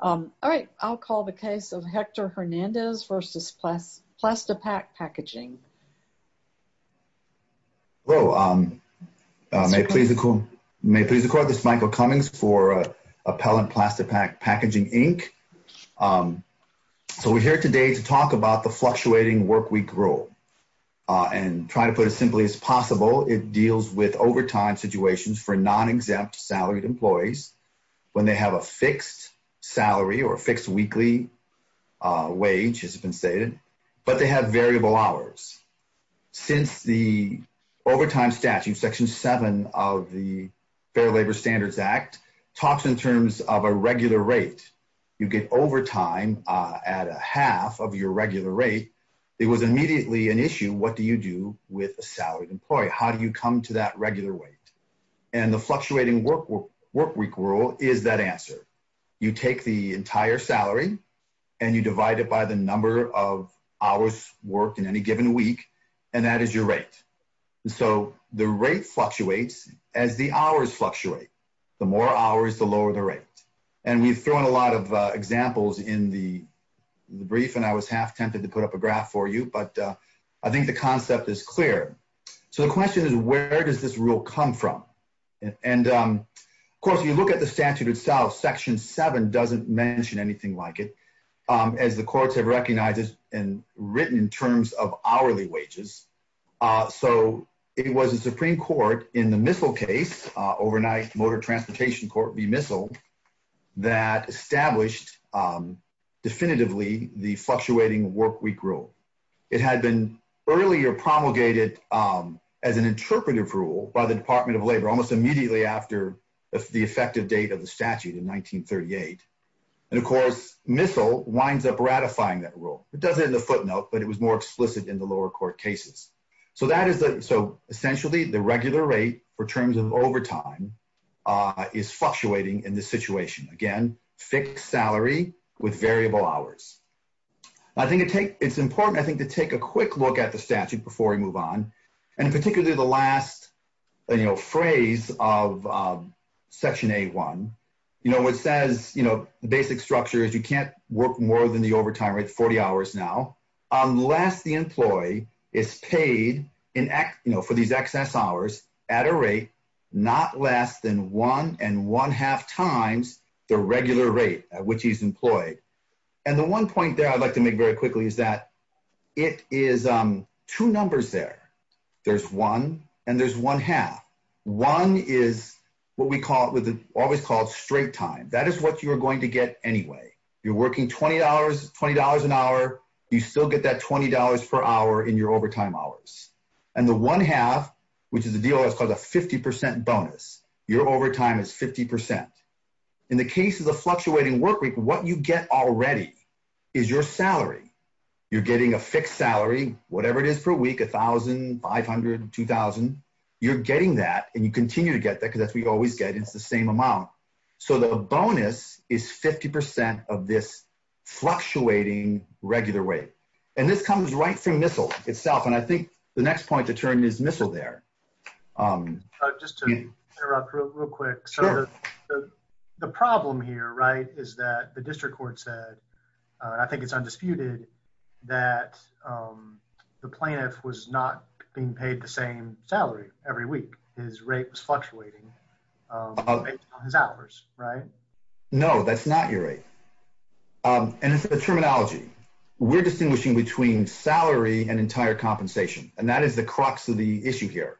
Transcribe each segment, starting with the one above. All right, I'll call the case of Hector Hernandez v. Plastipak Packaging. Hello. May it please the court, this is Michael Cummings for Appellant Plastipak Packaging, Inc. So we're here today to talk about the fluctuating workweek rule. And try to put it simply as possible, it deals with overtime situations for non-exempt salaried employees when they have a fixed salary or fixed weekly wage, as has been stated, but they have variable hours. Since the overtime statute, Section 7 of the Fair Labor Standards Act talks in terms of a regular rate, you get overtime at a half of your regular rate, it was immediately an issue, what do you do with a salaried employee? How do you come to that workweek rule is that answer. You take the entire salary and you divide it by the number of hours worked in any given week, and that is your rate. So the rate fluctuates as the hours fluctuate. The more hours, the lower the rate. And we've thrown a lot of examples in the brief and I was half tempted to put up a graph for you, but I think the concept is clear. So the question is, where does this rule come from? And of course, you look at the statute itself, Section 7 doesn't mention anything like it, as the courts have recognized it and written in terms of hourly wages. So it was a Supreme Court in the Missile case, overnight Motor Transportation Court v. Missile, that established definitively the fluctuating workweek rule. It had been earlier promulgated as an interpretive rule by the Department of Labor almost immediately after the effective date of the statute in 1938. And of course, Missile winds up ratifying that rule. It does it in the footnote, but it was more explicit in the lower court cases. So essentially, the regular rate for terms of overtime is fluctuating in this situation. Again, fixed salary with variable hours. I think it's important, I think, to take a quick look at the statute before we move on. And particularly the last phrase of Section 8.1, which says, the basic structure is you can't work more than the overtime rate 40 hours now, unless the employee is paid for these excess hours at a rate not less than one and one half times the regular rate at which he's employed. And the one point there I'd like to make very quickly is that it is two numbers there. There's one and there's one half. One is what we call it with always called straight time. That is what you're going to get anyway. You're working $20 an hour, you still get that $20 per hour in your overtime hours. And the one half, which is a deal that's called a 50% bonus, your overtime is 50%. In the case of the fluctuating work week, what you get already is your salary. You're getting a fixed salary, whatever it is per week, $1,000, $500, $2,000. You're getting that and you continue to get that because that's what you always get. It's the same amount. So the bonus is 50% of this fluctuating regular rate. And this comes right from MISL itself. And I think the next point to the problem here, right, is that the district court said, I think it's undisputed that the plaintiff was not being paid the same salary every week. His rate was fluctuating on his hours, right? No, that's not your rate. And the terminology, we're distinguishing between salary and entire compensation. And that is the crux of the issue here.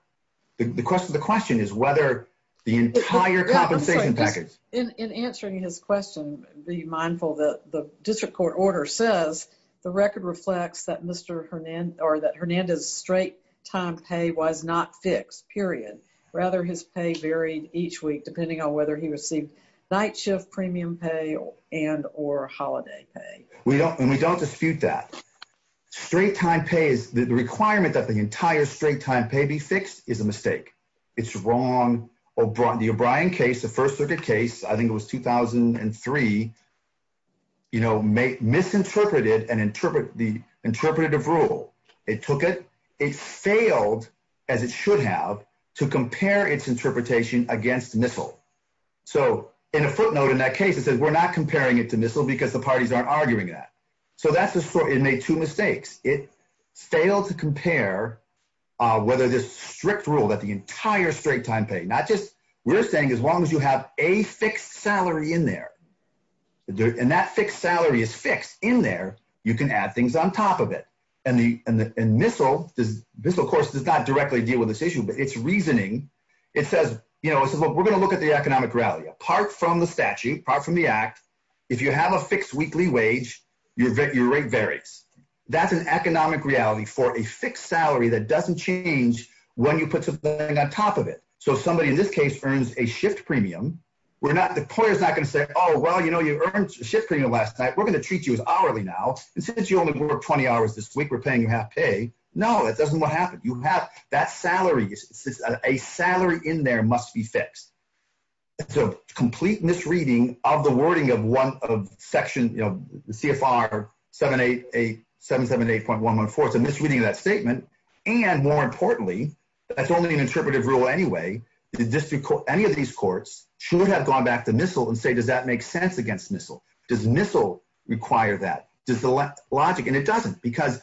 The question is whether the entire compensation package. In answering his question, be mindful that the district court order says the record reflects that Mr. Hernandez's straight time pay was not fixed, period. Rather, his pay varied each week depending on whether he received night shift premium pay and or holiday pay. And we don't dispute that. Straight time pay is the requirement that the O'Brien case, the first circuit case, I think it was 2003, misinterpreted the interpretative rule. It took it. It failed, as it should have, to compare its interpretation against MISL. So in a footnote in that case, it says we're not comparing it to MISL because the parties aren't arguing that. So it made two mistakes. It failed to compare whether this strict rule that the entire straight time pay, not just, we're saying as long as you have a fixed salary in there, and that fixed salary is fixed in there, you can add things on top of it. And MISL does, MISL, of course, does not directly deal with this issue, but its reasoning, it says, you know, it says, well, we're going to look at the economic reality. Apart from the statute, apart from the act, if you have a fixed weekly wage, your rate varies. That's an economic reality for a fixed salary that doesn't change when you put something on top of it. So if somebody in this case earns a shift premium, we're not, the employer's not going to say, oh, well, you know, you earned a shift premium last night. We're going to treat you as hourly now. And since you only work 20 hours this week, we're paying you half pay. No, that doesn't happen. You have that salary, a salary in there must be fixed. It's a complete misreading of the wording of one of section, you know, CFR 778.114. It's a misreading of that statement. And more importantly, that's only an interpretive rule anyway. The district court, any of these courts should have gone back to MISL and say, does that make sense against MISL? Does MISL require that? Does the logic, and it doesn't, because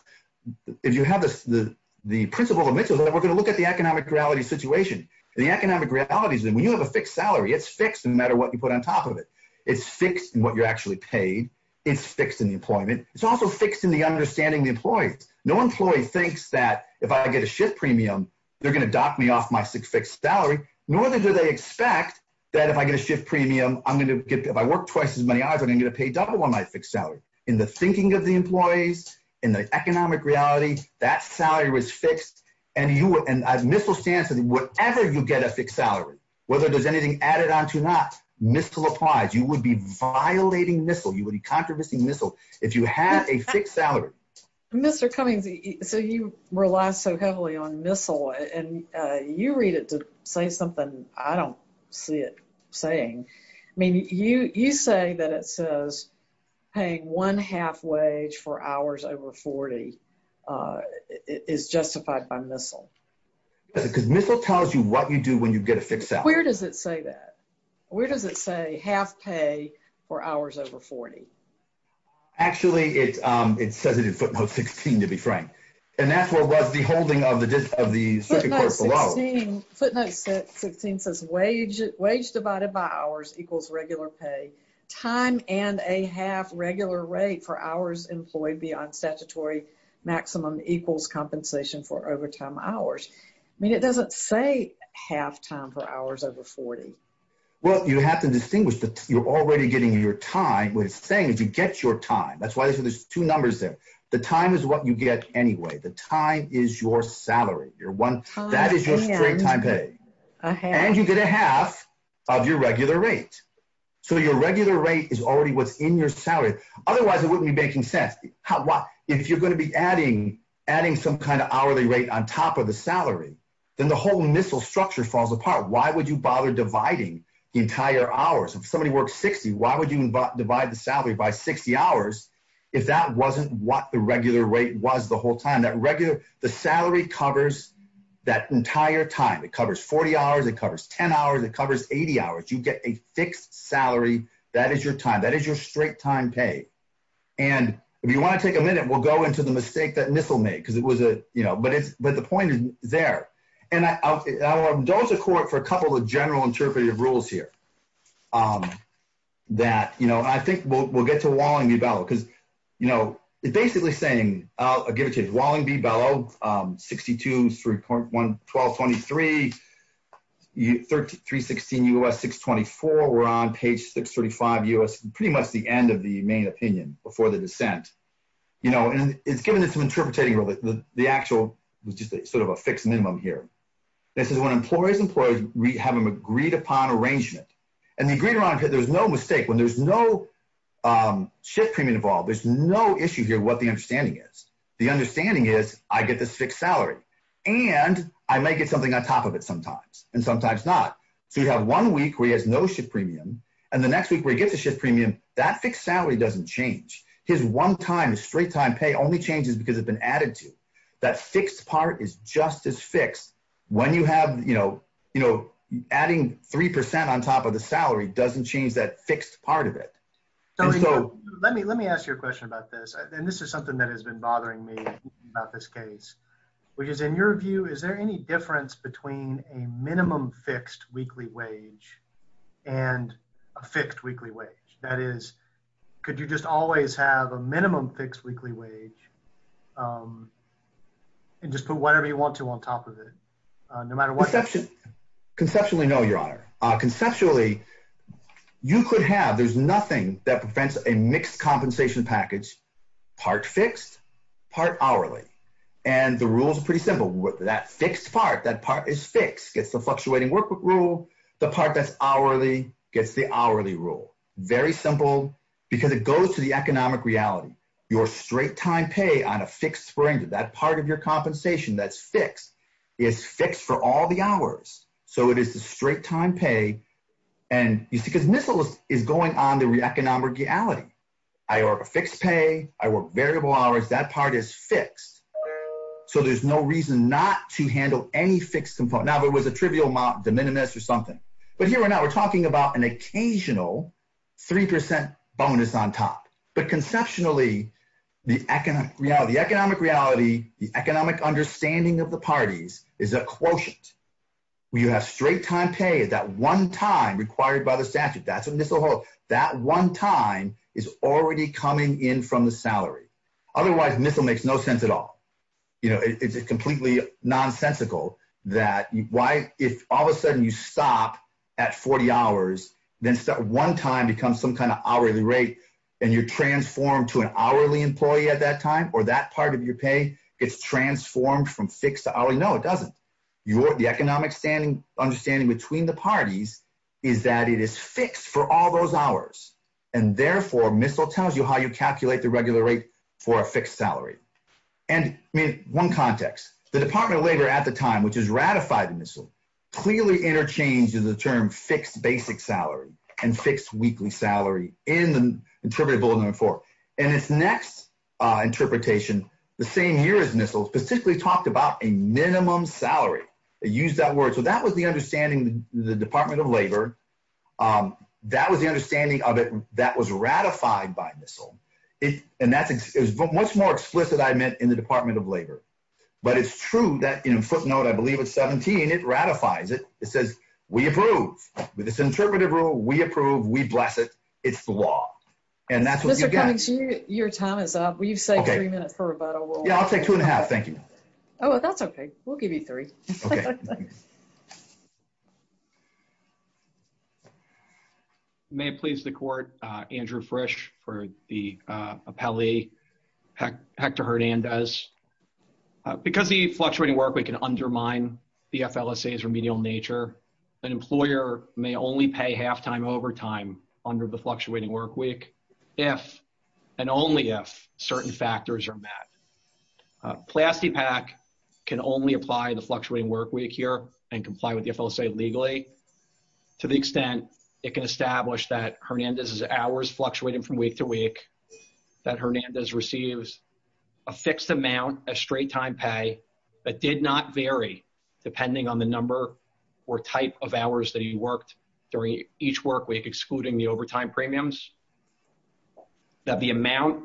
if you have the principle of MISL, we're going to look at the economic reality situation. The economic reality is that when you have a fixed salary, it's fixed no matter what you put on top of it. It's fixed in what you're actually paid. It's fixed in the employment. It's also fixed in the understanding of the employees. No employee thinks that if I get a shift premium, they're going to dock me off my fixed salary, nor do they expect that if I get a shift premium, I'm going to get, if I work twice as many hours, I'm going to get a paid double on my fixed salary. In the thinking of the employees, in the economic reality, that salary was fixed. And MISL stands for whatever you get a fixed salary. Whether there's anything added on to not, MISL applies. You would be violating MISL. You would be controversy MISL if you had a fixed salary. Mr. Cummings, so you rely so heavily on MISL, and you read it to say something I don't see it saying. I mean, you say that it says paying one half wage for hours over 40 is justified by MISL. Because MISL tells you what you do when you get a fixed salary. Where does it say that? Where does it say half pay for hours over 40? Actually, it says it in footnote 16, to be frank. And that's what was the holding of the circuit court below. Footnote 16 says wage divided by hours equals regular pay. Time and a half regular rate for hours employed beyond statutory maximum equals compensation for overtime hours. I mean, it doesn't say half time for hours over 40. Well, you have to distinguish that you're already getting your time. What it's saying is you get your time. That's why there's two numbers there. The time is what you get anyway. The time is your salary. That is your straight time pay. And you get a half of your regular rate. So your regular rate is already what's in your salary. Otherwise, it wouldn't be making sense. If you're going to be adding some kind of hourly rate on top of the salary, then the whole MISL structure falls apart. Why would you bother dividing the entire hours? If somebody works 60, why would you divide the salary by 60 hours if that wasn't what the regular rate was the whole time? The salary covers that entire time. It covers 40 hours. It covers 10 hours. It covers 80 hours. You get a fixed salary. That is your time. That is your straight time pay. And if you want to take a MISL, it's a mistake that MISL made. But the point is there. I'll indulge a court for a couple of general interpretive rules here. I think we'll get to Walling B. Bellow. It's basically saying, I'll give it to you. Walling B. Bellow, 62, 3.1223, 316 U.S., 624. We're on page 635 U.S. Pretty much the end of the main opinion before the dissent. And it's given us some interpretative rules. The actual was just sort of a fixed minimum here. This is when employees and employers have an agreed upon arrangement. And the agreed upon arrangement, there's no mistake. When there's no shift premium involved, there's no issue here what the understanding is. The understanding is I get this fixed salary. And I might get something on top of it sometimes. And sometimes not. So you have one week where he has no shift premium. And the next week where he that fixed salary doesn't change. His one time, his straight time pay only changes because it's been added to. That fixed part is just as fixed. When you have, you know, adding 3% on top of the salary doesn't change that fixed part of it. So let me ask you a question about this. And this is something that has been bothering me about this case, which is in your view, is there any fixed weekly wage and a fixed weekly wage? That is, could you just always have a minimum fixed weekly wage? And just put whatever you want to on top of it? No matter what conceptually, no, your honor, conceptually, you could have there's nothing that prevents a mixed compensation package, part fixed, part hourly. And the rules are pretty simple. That fixed part, that part is fixed, gets the fluctuating work rule. The part that's hourly gets the hourly rule. Very simple. Because it goes to the economic reality, your straight time pay on a fixed spring, that part of your compensation that's fixed is fixed for all the hours. So it is the straight time pay. And you see, because this is going on the economic reality. I work a fixed pay, I work variable hours, that part is fixed. So there's no reason not to handle any fixed component. Now, if it was a trivial amount, de minimis or something, but here we're now we're talking about an occasional 3% bonus on top. But conceptually, the economic reality, economic reality, the economic understanding of the parties is a quotient. We have straight time pay is that one time required by the statute, that's what MISL holds. That one time is already coming in from the salary. Otherwise, MISL makes no sense at all. You know, it's completely nonsensical that why if all of a sudden you stop at 40 hours, then one time becomes some kind of hourly rate, and you're transformed to an hourly employee at that time, or that part of your pay gets transformed from fixed to hourly. No, it doesn't. The economic understanding between the parties is that it is fixed for all those hours. And therefore, MISL tells you how you calculate the regular rate for a fixed salary. And I mean, one context, the Department of Labor at the time, which has ratified MISL, clearly interchanged the term fixed basic salary, and fixed weekly salary in the interpretive MISL, specifically talked about a minimum salary. It used that word. So that was the understanding, the Department of Labor. That was the understanding of it that was ratified by MISL. And that's much more explicit, I meant in the Department of Labor. But it's true that footnote, I believe it's 17, it ratifies it. It says, we approve with this interpretive rule, we approve, we bless it. It's the law. And that's what you get. Your time is up. We've saved three minutes for rebuttal. Yeah, I'll take two and a half. Thank you. Oh, that's okay. We'll give you three. May it please the court, Andrew Frisch for the appellee, Hector Hernandez. Because the fluctuating workweek can undermine the FLSA's remedial nature, an employer may only pay halftime overtime under the fluctuating workweek, if and only if certain factors are met. PlastiPak can only apply the fluctuating workweek here and comply with the FLSA legally, to the extent it can establish that Hernandez's hours fluctuated from week to week, that Hernandez receives a fixed amount of straight time pay that did not vary depending on the number or type of hours that he worked during each workweek, excluding the overtime premiums, that the amount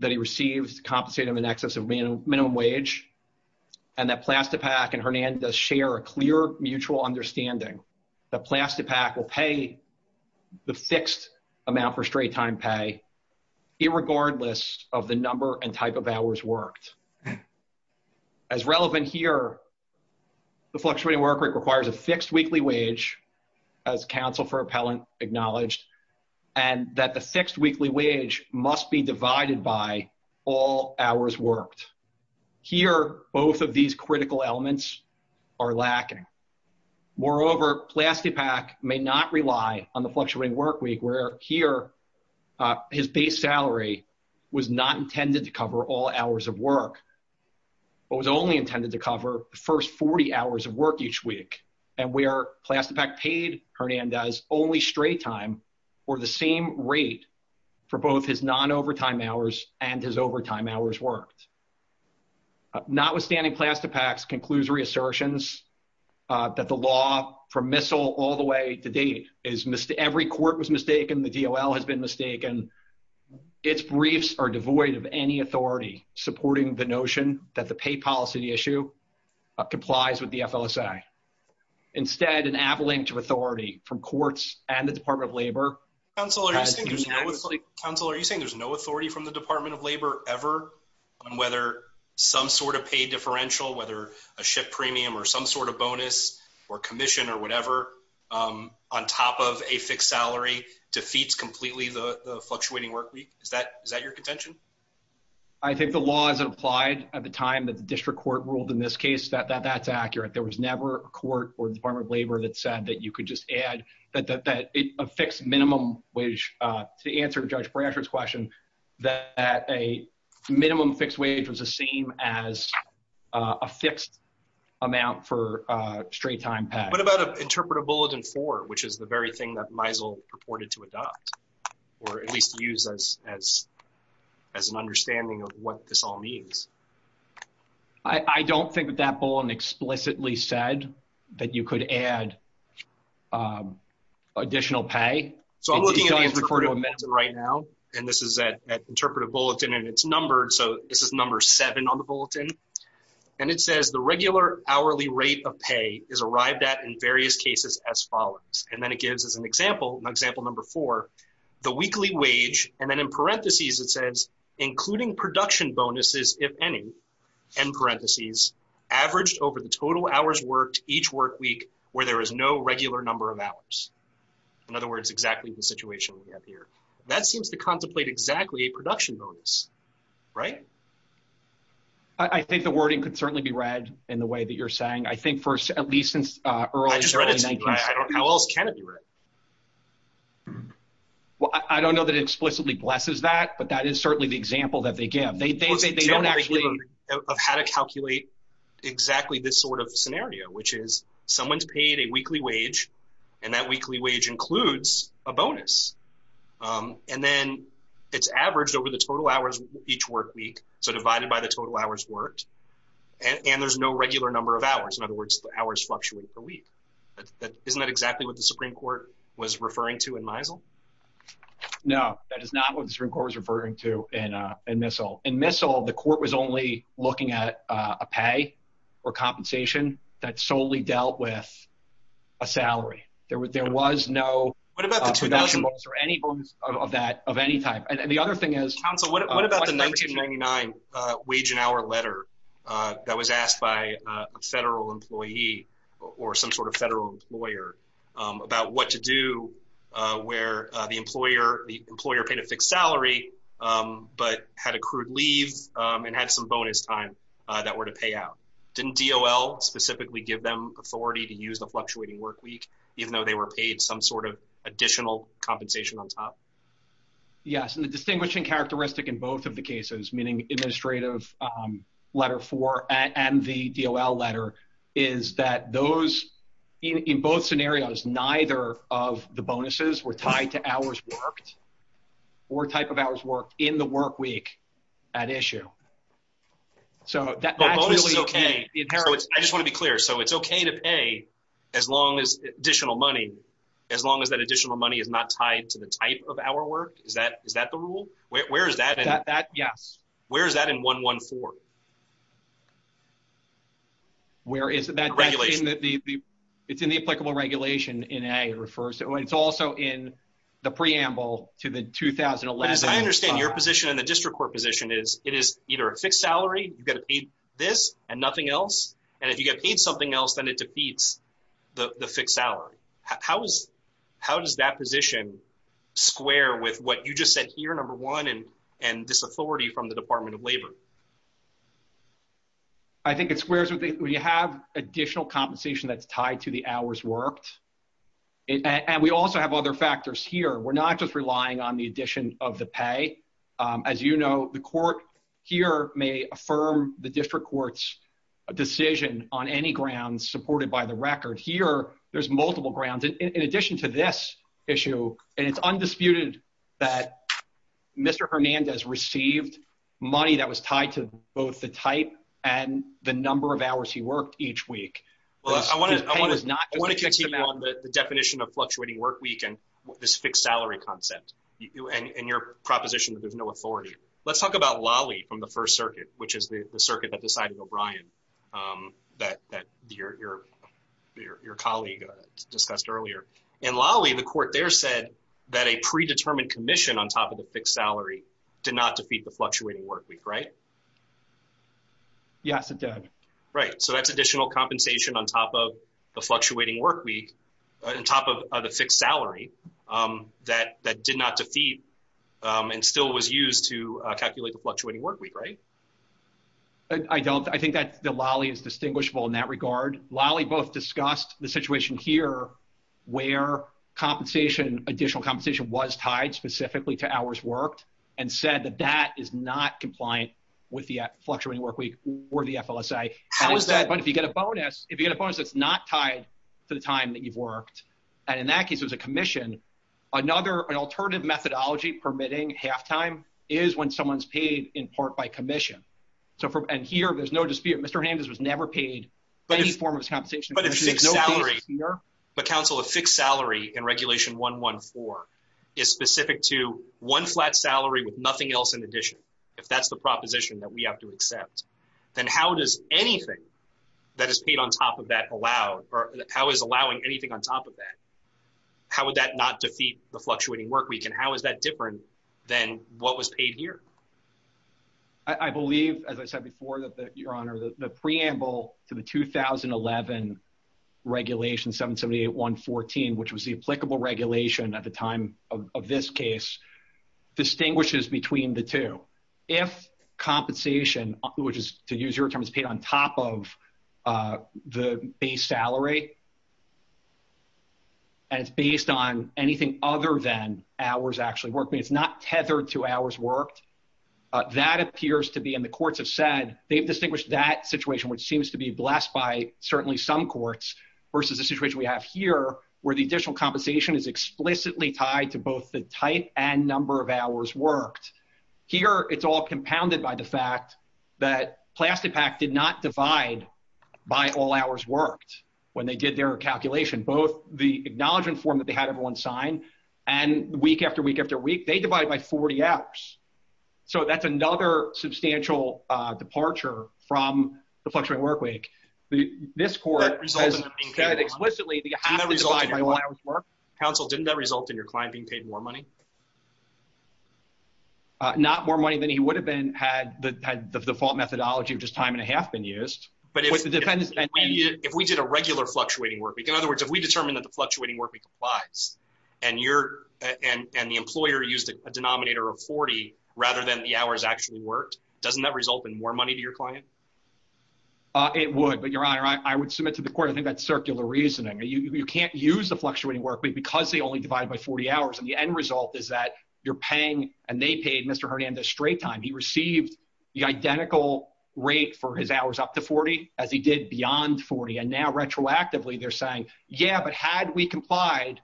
that he received compensated him in excess of minimum wage, and that PlastiPak and Hernandez share a clear mutual understanding that PlastiPak will pay the fixed amount for straight time pay, irregardless of the number and type of hours worked. As relevant here, the fluctuating workweek requires a fixed weekly wage, as counsel for appellant acknowledged, and that the fixed weekly wage must be divided by all hours worked. Here, both of these critical elements are lacking. Moreover, PlastiPak may not rely on the fluctuating workweek, where here his base salary was not intended to cover all hours of work, but was only intended to cover the first 40 hours of work each week, and where PlastiPak paid Hernandez only straight time, or the same rate for both his non-overtime hours and his overtime hours worked. Notwithstanding, PlastiPak's conclusory assertions that the law, from the DOL, has been mistaken, its briefs are devoid of any authority supporting the notion that the pay policy issue complies with the FLSA. Instead, an avalanche of authority from courts and the Department of Labor has been actually— —Counsel, are you saying there's no authority from the Department of Labor ever on whether some sort of pay differential, whether a shift premium or some sort of bonus or commission or defeats completely the fluctuating workweek? Is that your contention? —I think the law as it applied at the time that the district court ruled in this case, that's accurate. There was never a court or the Department of Labor that said that you could just add that a fixed minimum wage—to answer Judge Bransford's question, that a minimum fixed wage was the same as a fixed amount for a straight-time pay. —What about Interpretive Bulletin 4, which is the very thing that Meisel purported to adopt, or at least use as an understanding of what this all means? —I don't think that that bulletin explicitly said that you could add additional pay. —So I'm looking at the Interpretive Bulletin right now, and this is at Interpretive Bulletin, and it's numbered, so this is number 7 on the bulletin, and it says, the regular hourly rate of pay is arrived at in various cases as follows, and then it gives as an example, example number 4, the weekly wage, and then in parentheses it says, including production bonuses, if any, end parentheses, averaged over the total hours worked each workweek where there is no regular number of hours. In other words, exactly the situation we have here. That seems to contemplate exactly a production bonus, right? —I think the wording could certainly be read in the way that you're saying. I think for, at least since early 19— —I just read it to you. How else can it be read? —Well, I don't know that it explicitly blesses that, but that is certainly the example that they give. They don't actually— —Of how to calculate exactly this sort of scenario, which is someone's paid a weekly wage, and that weekly wage includes a bonus, and then it's averaged over the total hours each workweek, so divided by the total hours worked, and there's no regular number of hours. In other words, the hours fluctuate per week. Isn't that exactly what the Supreme Court was referring to in Misel? —No, that is not what the Supreme Court was referring to in Misel. In Misel, the court was only looking at a pay or compensation that solely dealt with a salary. There was no production bonus or any bonus of that, of any type. And the other thing is— —Counsel, what about the 1999 wage and hour letter that was asked by a federal employee or some sort of federal lawyer about what to do where the employer paid a fixed salary but had accrued leave and had some bonus time that were to pay out? Didn't DOL specifically give them authority to use the fluctuating workweek, even though they were paid some additional compensation on top? —Yes, and the distinguishing characteristic in both of the cases, meaning Administrative Letter 4 and the DOL letter, is that those, in both scenarios, neither of the bonuses were tied to hours worked or type of hours worked in the workweek at issue. —The bonus is okay. I just want to be clear. So it's okay to pay as long as additional money, as long as that additional money is not tied to the type of hour worked? Is that the rule? Where is that in— —Yes. —Where is that in 114? —Where is that— —Regulation. —It's in the applicable regulation in A. It's also in the preamble to the 2011— —As I understand, your position in the District Court position is it is either a fixed salary—you've got to pay this and nothing else—and if you get paid something else, then it defeats the fixed salary. How does that position square with what you just said here, number one, and this authority from the Department of Labor? —I think it squares with the—we have additional compensation that's tied to the hours worked, and we also have other factors here. We're not just relying on the addition of the pay. As you know, the court here may affirm the District Court's decision on any grounds supported by the record. Here, there's multiple grounds. In addition to this issue, and it's undisputed that Mr. Hernandez received money that was tied to both the type and the number of hours he worked each week. His pay was not— —I want to continue on the definition of fluctuating work week and this fixed salary concept, and your proposition that there's no authority. Let's talk about Lawley from the First Circuit, which is the circuit that decided O'Brien, that your colleague discussed earlier. In Lawley, the court there said that a predetermined commission on top of the fixed salary did not defeat the fluctuating work week, right? —Yes, it did. —Right, so that's additional compensation on top of the fluctuating work week, on top of the fixed salary that did not defeat and still was used to calculate the fluctuating work week, right? —I think that Lawley is distinguishable in that regard. Lawley both discussed the situation here where additional compensation was tied specifically to hours worked and said that that is not compliant with the fluctuating work week or the FLSA. —How is that— —But if you get a bonus, if you get a bonus that's not tied to the time that you've worked, and in that case, there's a commission, another—an alternative methodology permitting half-time is when someone's paid in part by commission. So from—and here, there's no dispute. Mr. Hansen was never paid any form of compensation. —But if fixed salary, but counsel, a fixed salary in Regulation 114 is specific to one flat salary with nothing else in addition, if that's the proposition that we have to accept, then how does anything that is paid on top of that allow—or how is allowing anything on top of that, how would that not defeat the fluctuating work week, and how is that different than what was paid here? —I believe, as I said before, that the—Your Honor, the preamble to the 2011 Regulation 778.114, which was the applicable regulation at the time of this case, distinguishes between the two. If compensation, which is, to use your terms, paid on top of the base salary, and it's based on anything other than hours actually worked, I mean, it's not tethered to hours worked, that appears to be—and the courts have said they've distinguished that situation, which seems to be blessed by certainly some courts, versus the situation we have here, where the additional compensation is explicitly tied to both the type and number of hours worked. Here, it's all compounded by the fact that Plastipac did not divide by all hours worked when they did their calculation. Both the acknowledgment form that they had everyone sign, and week after week after week, they divided by 40 hours. So that's another substantial departure from the fluctuating work week. This court has said explicitly that you have to divide by all hours worked. —Counsel, didn't that result in your client being paid more money? —Not more money than he would have been had the default methodology of just time and a half been used. —But if we did a regular fluctuating work week—in other words, if we determined that fluctuating work week applies, and the employer used a denominator of 40 rather than the hours actually worked, doesn't that result in more money to your client? —It would, but, Your Honor, I would submit to the court, I think that's circular reasoning. You can't use the fluctuating work week because they only divide by 40 hours, and the end result is that you're paying—and they paid Mr. Hernandez straight time. He received the identical rate for his hours up to 40 as he did beyond 40, and now, retroactively, they're saying, yeah, but had we complied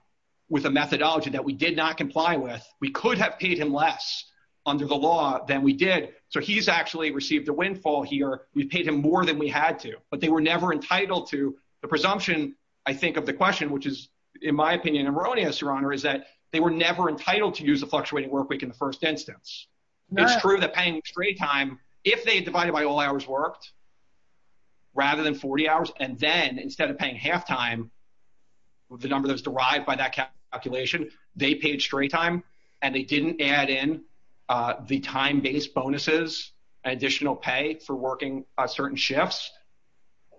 with a methodology that we did not comply with, we could have paid him less under the law than we did. So he's actually received a windfall here. We paid him more than we had to, but they were never entitled to—the presumption, I think, of the question, which is, in my opinion, erroneous, Your Honor, is that they were never entitled to use the fluctuating work week in the first instance. It's true that paying straight time, if they divided by all hours worked rather than 40 hours, and then instead of paying half-time, the number that was derived by that calculation, they paid straight time, and they didn't add in the time-based bonuses, additional pay for working certain shifts,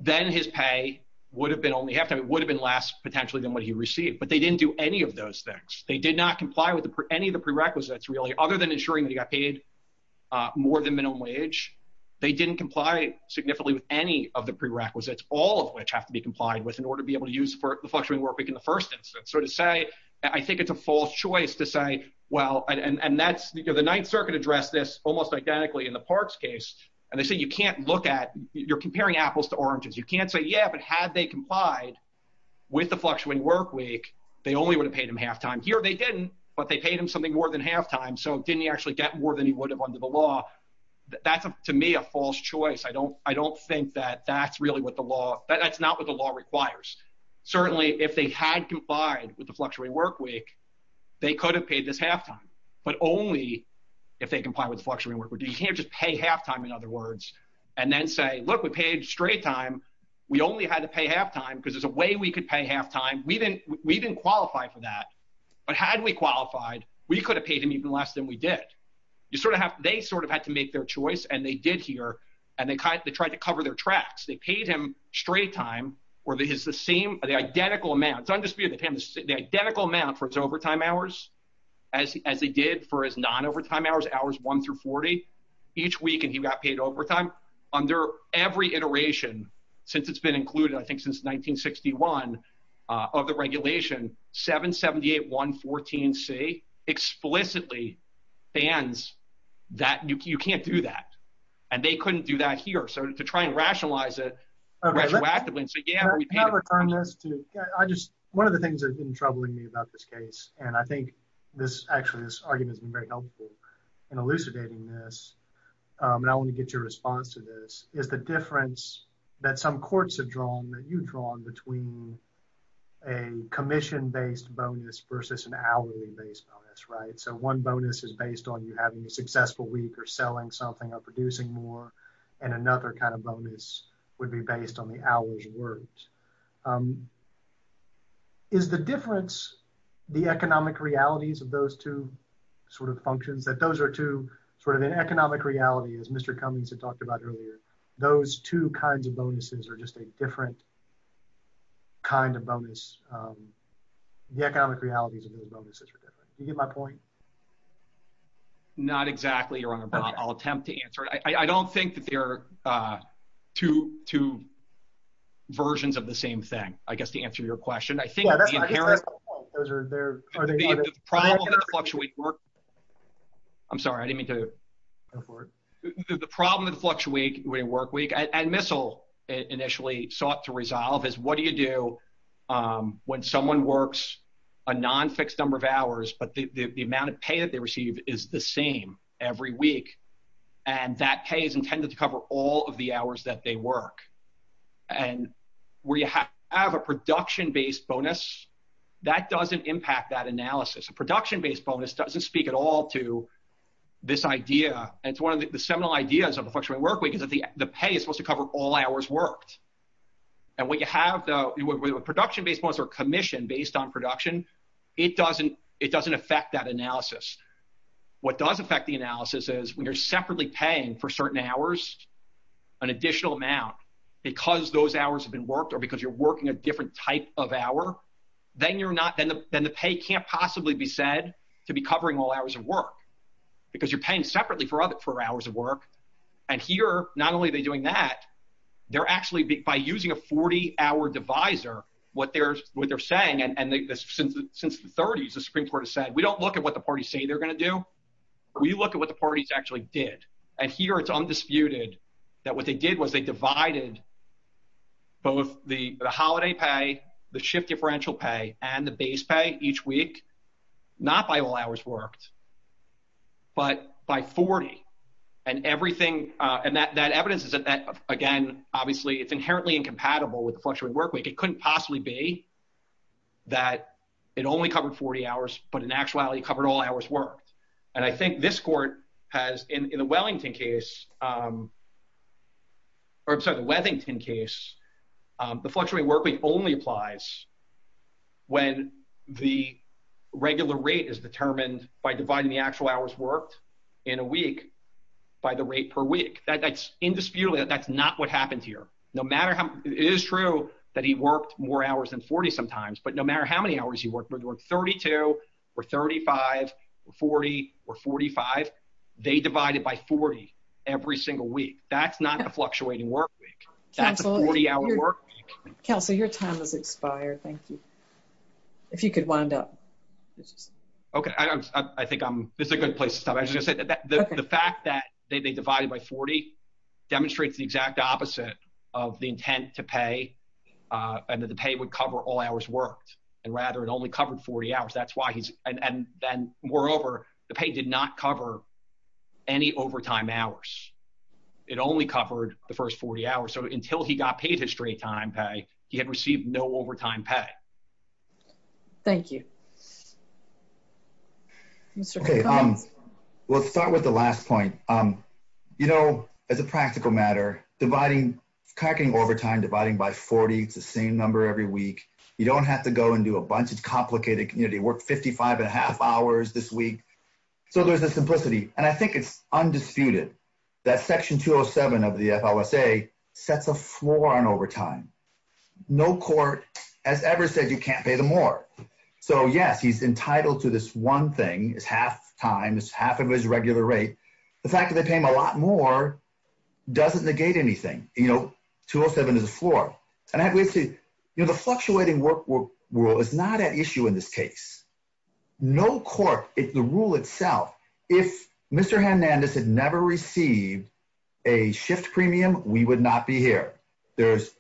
then his pay would have been only half-time. It would have been less, potentially, than what he received, but they didn't do any of those things. They did not comply with any of the prerequisites, really, other than ensuring that he got paid more than minimum wage. They didn't comply significantly with any of the prerequisites, all of which have to be complied with in order to be able to use the fluctuating work week in the first instance. So to say, I think it's a false choice to say, well, and that's—the Ninth Circuit addressed this almost identically in the Parks case, and they say you can't look at— you're comparing apples to oranges. You can't say, yeah, but had they complied with the fluctuating work week, they only would have paid him half-time. Here, they didn't, but they paid him something more than half-time, so didn't he actually get more than he would have under the law? That's, to me, a false choice. I don't think that that's really what the law—that's not what the law requires. Certainly, if they had complied with the fluctuating work week, they could have paid this half-time, but only if they complied with the fluctuating work week. You can't just pay half-time, in other words, and then say, look, we paid straight time. We only had to pay half-time because there's a way we could pay half-time. We didn't qualify for that, but had we qualified, we could have paid him even less than we did. You sort of have—they sort of had to make their choice, and they did here, and they tried to cover their tracks. They paid him straight time, or it's the same—the identical amount. It's undisputed. They paid him the identical amount for his overtime hours as they did for his non-overtime hours, hours one through 40, each week, and he got paid overtime. Under every iteration, since it's been included, I think since 1961, of the regulation, 778.114c explicitly bans that. You can't do that, and they couldn't do that here. So to try and rationalize it retroactively and say, yeah, I just—one of the things that's been troubling me about this case, and I think this—actually, this argument has been very helpful in elucidating this, and I want to get your response to this, is the difference that some courts have drawn, that you've drawn, between a commission-based bonus versus an hourly-based bonus, right? So one bonus is based on you having a successful week or selling something or producing more, and another kind of bonus would be based on the hour's worth. Is the difference the economic realities of those two sort of functions, that those are two sort of in economic reality, as Mr. Cummings had talked about earlier, those two kinds of bonuses are just a different kind of bonus. The economic realities of those bonuses are different. Do you get my point? Not exactly, Your Honor, but I'll attempt to answer it. I don't think that they're two versions of the same thing, I guess, to answer your question. I think the inherent— Well, I think that's the point. Those are— The problem with the fluctuating work—I'm sorry, I didn't mean to go forward. The problem with the fluctuating work week, and MISL initially sought to resolve, is what do you do when someone works a non-fixed number of hours, but the amount of pay that they receive is the same every week, and that pay is intended to cover all of the hours that they work? And where you have a production-based bonus, that doesn't impact that analysis. A production-based bonus doesn't speak at all to this idea, and it's one of the seminal ideas of a fluctuating work week, is that the pay is supposed to cover all hours worked. And when you have a production-based bonus or commission based on production, it doesn't affect that analysis. What does affect the analysis is when you're separately paying for certain hours an additional amount because those hours have been worked or because you're working a different type of hour, then the pay can't possibly be said to be covering all hours of work, because you're paying separately for hours of work, and here, not only are they doing that, they're actually, by using a 40-hour divisor, what they're saying, and since the 30s, the Supreme Court has said, we don't look at what the parties say they're going to do, we look at what the parties actually did, and here it's undisputed that what they did was they divided both the holiday pay, the shift differential pay, and the base pay each week, not by all hours worked, but by 40, and everything, and that evidence is that, again, obviously, it's inherently incompatible with the fluctuating work week. It couldn't possibly be that it only covered 40 hours, but in actuality, covered all hours worked, and I think this court has, in the Wellington case, or I'm sorry, the Wethington case, the fluctuating work week only applies when the regular rate is determined by dividing the actual hours worked in a week by the rate per week. That's indisputably, that's not what happened here. No matter how, it is true that he worked more hours than 40 sometimes, but no matter how many hours he worked, whether it was 32, or 35, or 40, or 45, they divided by 40 every single week. That's not a fluctuating work week. That's a 40-hour work week. Counselor, your time has expired. Thank you. If you could wind up. Okay, I think this is a good place to stop. I was just going to say that the fact that they divided by 40 demonstrates the exact opposite of the intent to pay, and that the pay would cover all hours worked, and rather, it only covered 40 hours. That's why he's, moreover, the pay did not cover any overtime hours. It only covered the first 40 hours, so until he got paid his straight-time pay, he had received no overtime pay. Thank you. Mr. McCombs? We'll start with the last point. As a practical matter, cracking overtime, dividing by 40, it's the same number every week. You don't have to go and do a bunch. It's a complicated community. Worked 55 and a half hours this week, so there's a simplicity, and I think it's undisputed that Section 207 of the FLSA sets a floor on overtime. No court has ever said you can't pay them more, so yes, he's entitled to this one thing. It's half-time. It's half of his regular rate. The fact that they pay him a lot more doesn't negate anything. 207 is a floor, and the fluctuating work rule is not at issue in this case. No court, the rule itself, if Mr. Hernandez had never received a shift premium, we would not be here. There's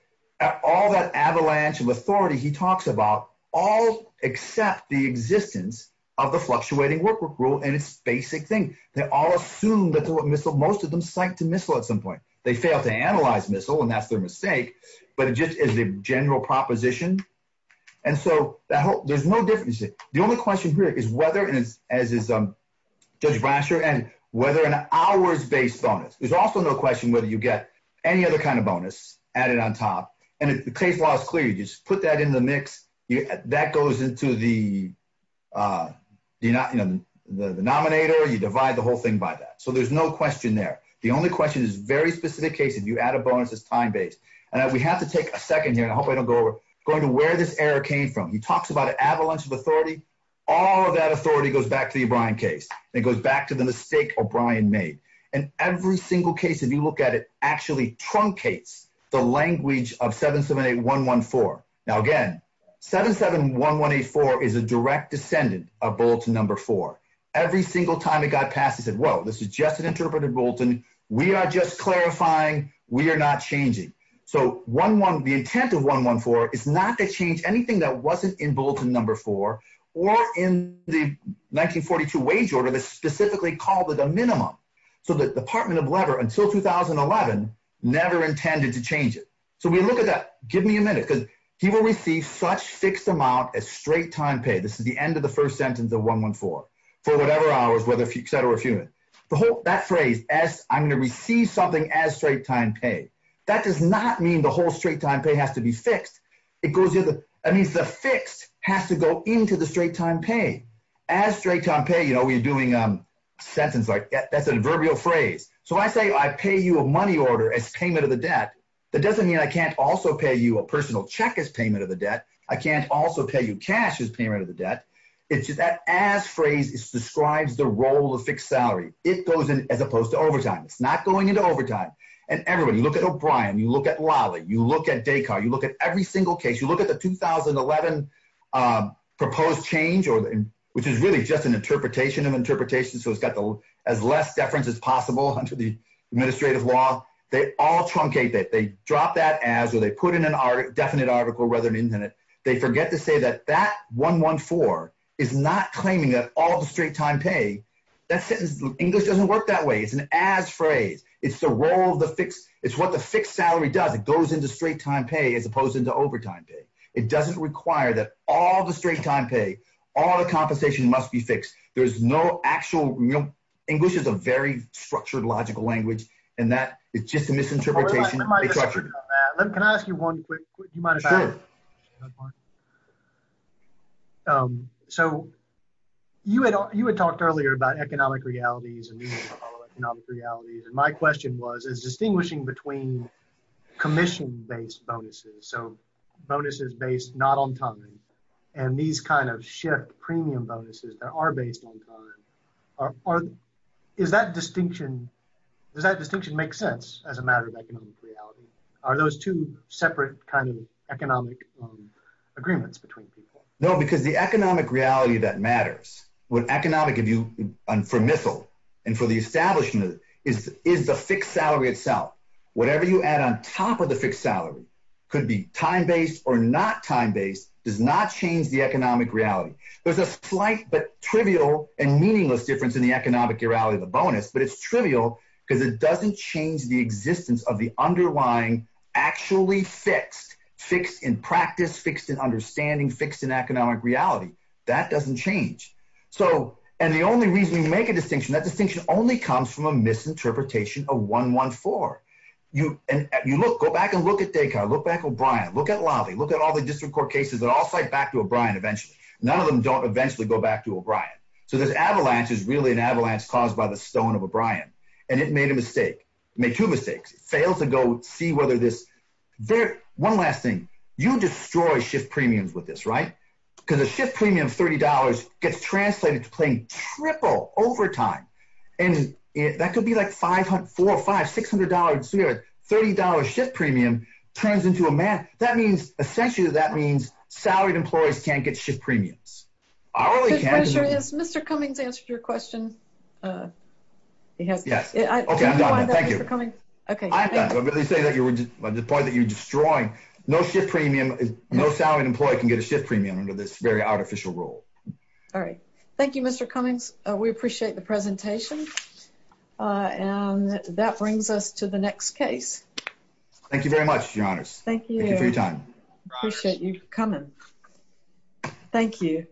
all that avalanche of authority he talks about, all except the existence of the fluctuating work rule, and it's a basic thing. They all assume that most of them psyched to missile at some point. They fail to analyze missile, and that's their mistake, but it just is the general proposition, and so there's no difference. The only question here is whether, as is Judge Brasher, and whether an hours-based bonus. There's also no question whether you get any other kind of bonus added on top, and the case law is clear. You just put that in the mix. That goes into the denominator. You divide the whole thing by that, so there's no question there. The only question is very specific case. If you add a bonus, it's time-based, and we have to take a second here, and I hope I don't go over, going to where this error came from. He talks about an avalanche of authority. All of that authority goes back to the O'Brien case, and it goes back to the mistake O'Brien made, and every single case, if you look at it, actually truncates the language of 778114. Now, 771184 is a direct descendant of bulletin number four. Every single time it got passed, he said, well, this is just an interpreted bulletin. We are just clarifying. We are not changing, so the intent of 114 is not to change anything that wasn't in bulletin number four or in the 1942 wage order that specifically called it a minimum, so the Department of Labor, until 2011, never intended to change it, so we look at that. Give me a minute because he will receive such fixed amount as straight-time pay. This is the end of the first sentence of 114, for whatever hours, whether set or refuted. That phrase, as I'm going to receive something as straight-time pay, that does not mean the whole straight-time pay has to be fixed. It means the fixed has to go into the straight-time pay. As straight-time pay, you know, we're doing a sentence like that's an adverbial phrase, so I say I pay you a money order as payment of the debt. That doesn't mean I can't also pay you a personal check as payment of the debt. I can't also pay you cash as payment of the debt. It's just that as phrase describes the role of fixed salary. It goes in as opposed to overtime. It's not going into overtime, and everybody, you look at O'Brien, you look at Lally, you look at Descartes, you look at every single case, you look at the 2011 proposed change, which is really just an interpretation of interpretation, so it's got as less deference as possible under the administrative law. They all truncate that. They drop that as, or they put in a definite article rather than indefinite. They forget to say that that 114 is not claiming that all the straight-time pay, that sentence, English doesn't work that way. It's an as phrase. It's the role of the fixed, it's what the fixed salary does. It goes into straight-time pay as opposed to overtime pay. It doesn't require that all the straight-time pay, all the compensation must be fixed. There's no actual, English is a very structured logical language, and that it's just a misinterpretation. Can I ask you one quick question? You had talked earlier about economic realities, and my question was, is distinguishing between commission-based bonuses, so bonuses based not on time, and these kind of shift premium bonuses that are based on time, is that distinction, does that distinction make sense as a matter of economic reality? Are those two separate kind of economic agreements between people? No, because the economic reality that matters, what economic, if you, and for MISL, and for the establishment, is the fixed salary itself. Whatever you add on top of the fixed salary, could be time-based or not time-based, does not change the economic reality. There's a slight but trivial and meaningless difference in the economic reality of the bonus, but it's trivial because it doesn't change the existence of the underlying, actually fixed, fixed in practice, fixed in understanding, fixed in economic reality. That doesn't change. So, and the only reason we make a distinction, that distinction only comes from a misinterpretation of 114. You look, go back and look at Descartes, look back at O'Brien, look at Lawley, look at all the district court cases that all cite back to O'Brien eventually. None of them don't eventually go back to O'Brien. So, this avalanche is really an avalanche caused by the stone of O'Brien, and it made a mistake, made two mistakes, failed to go see whether this, one last thing, you destroy shift premiums with this, right? Because a shift premium of $30 gets translated to paying triple overtime. And that could be like five, four, five, $600, $30 shift premium turns into a math. That means, essentially, that means salaried employees can't get shift premiums. I really can't. The pressure is, Mr. Cummings answered your question. He has. Yes. Okay, I'm done. Thank you. Thank you for coming. Okay. I'm done. I'm going to say that you were, the point that you're destroying, no shift premium, no salaried employee can get a shift premium under this very artificial rule. All right. Thank you, Mr. Cummings. We appreciate the presentation. And that brings us to the next case. Thank you very much, your honors. Thank you. Thank you for your time. I appreciate you coming. Thank you.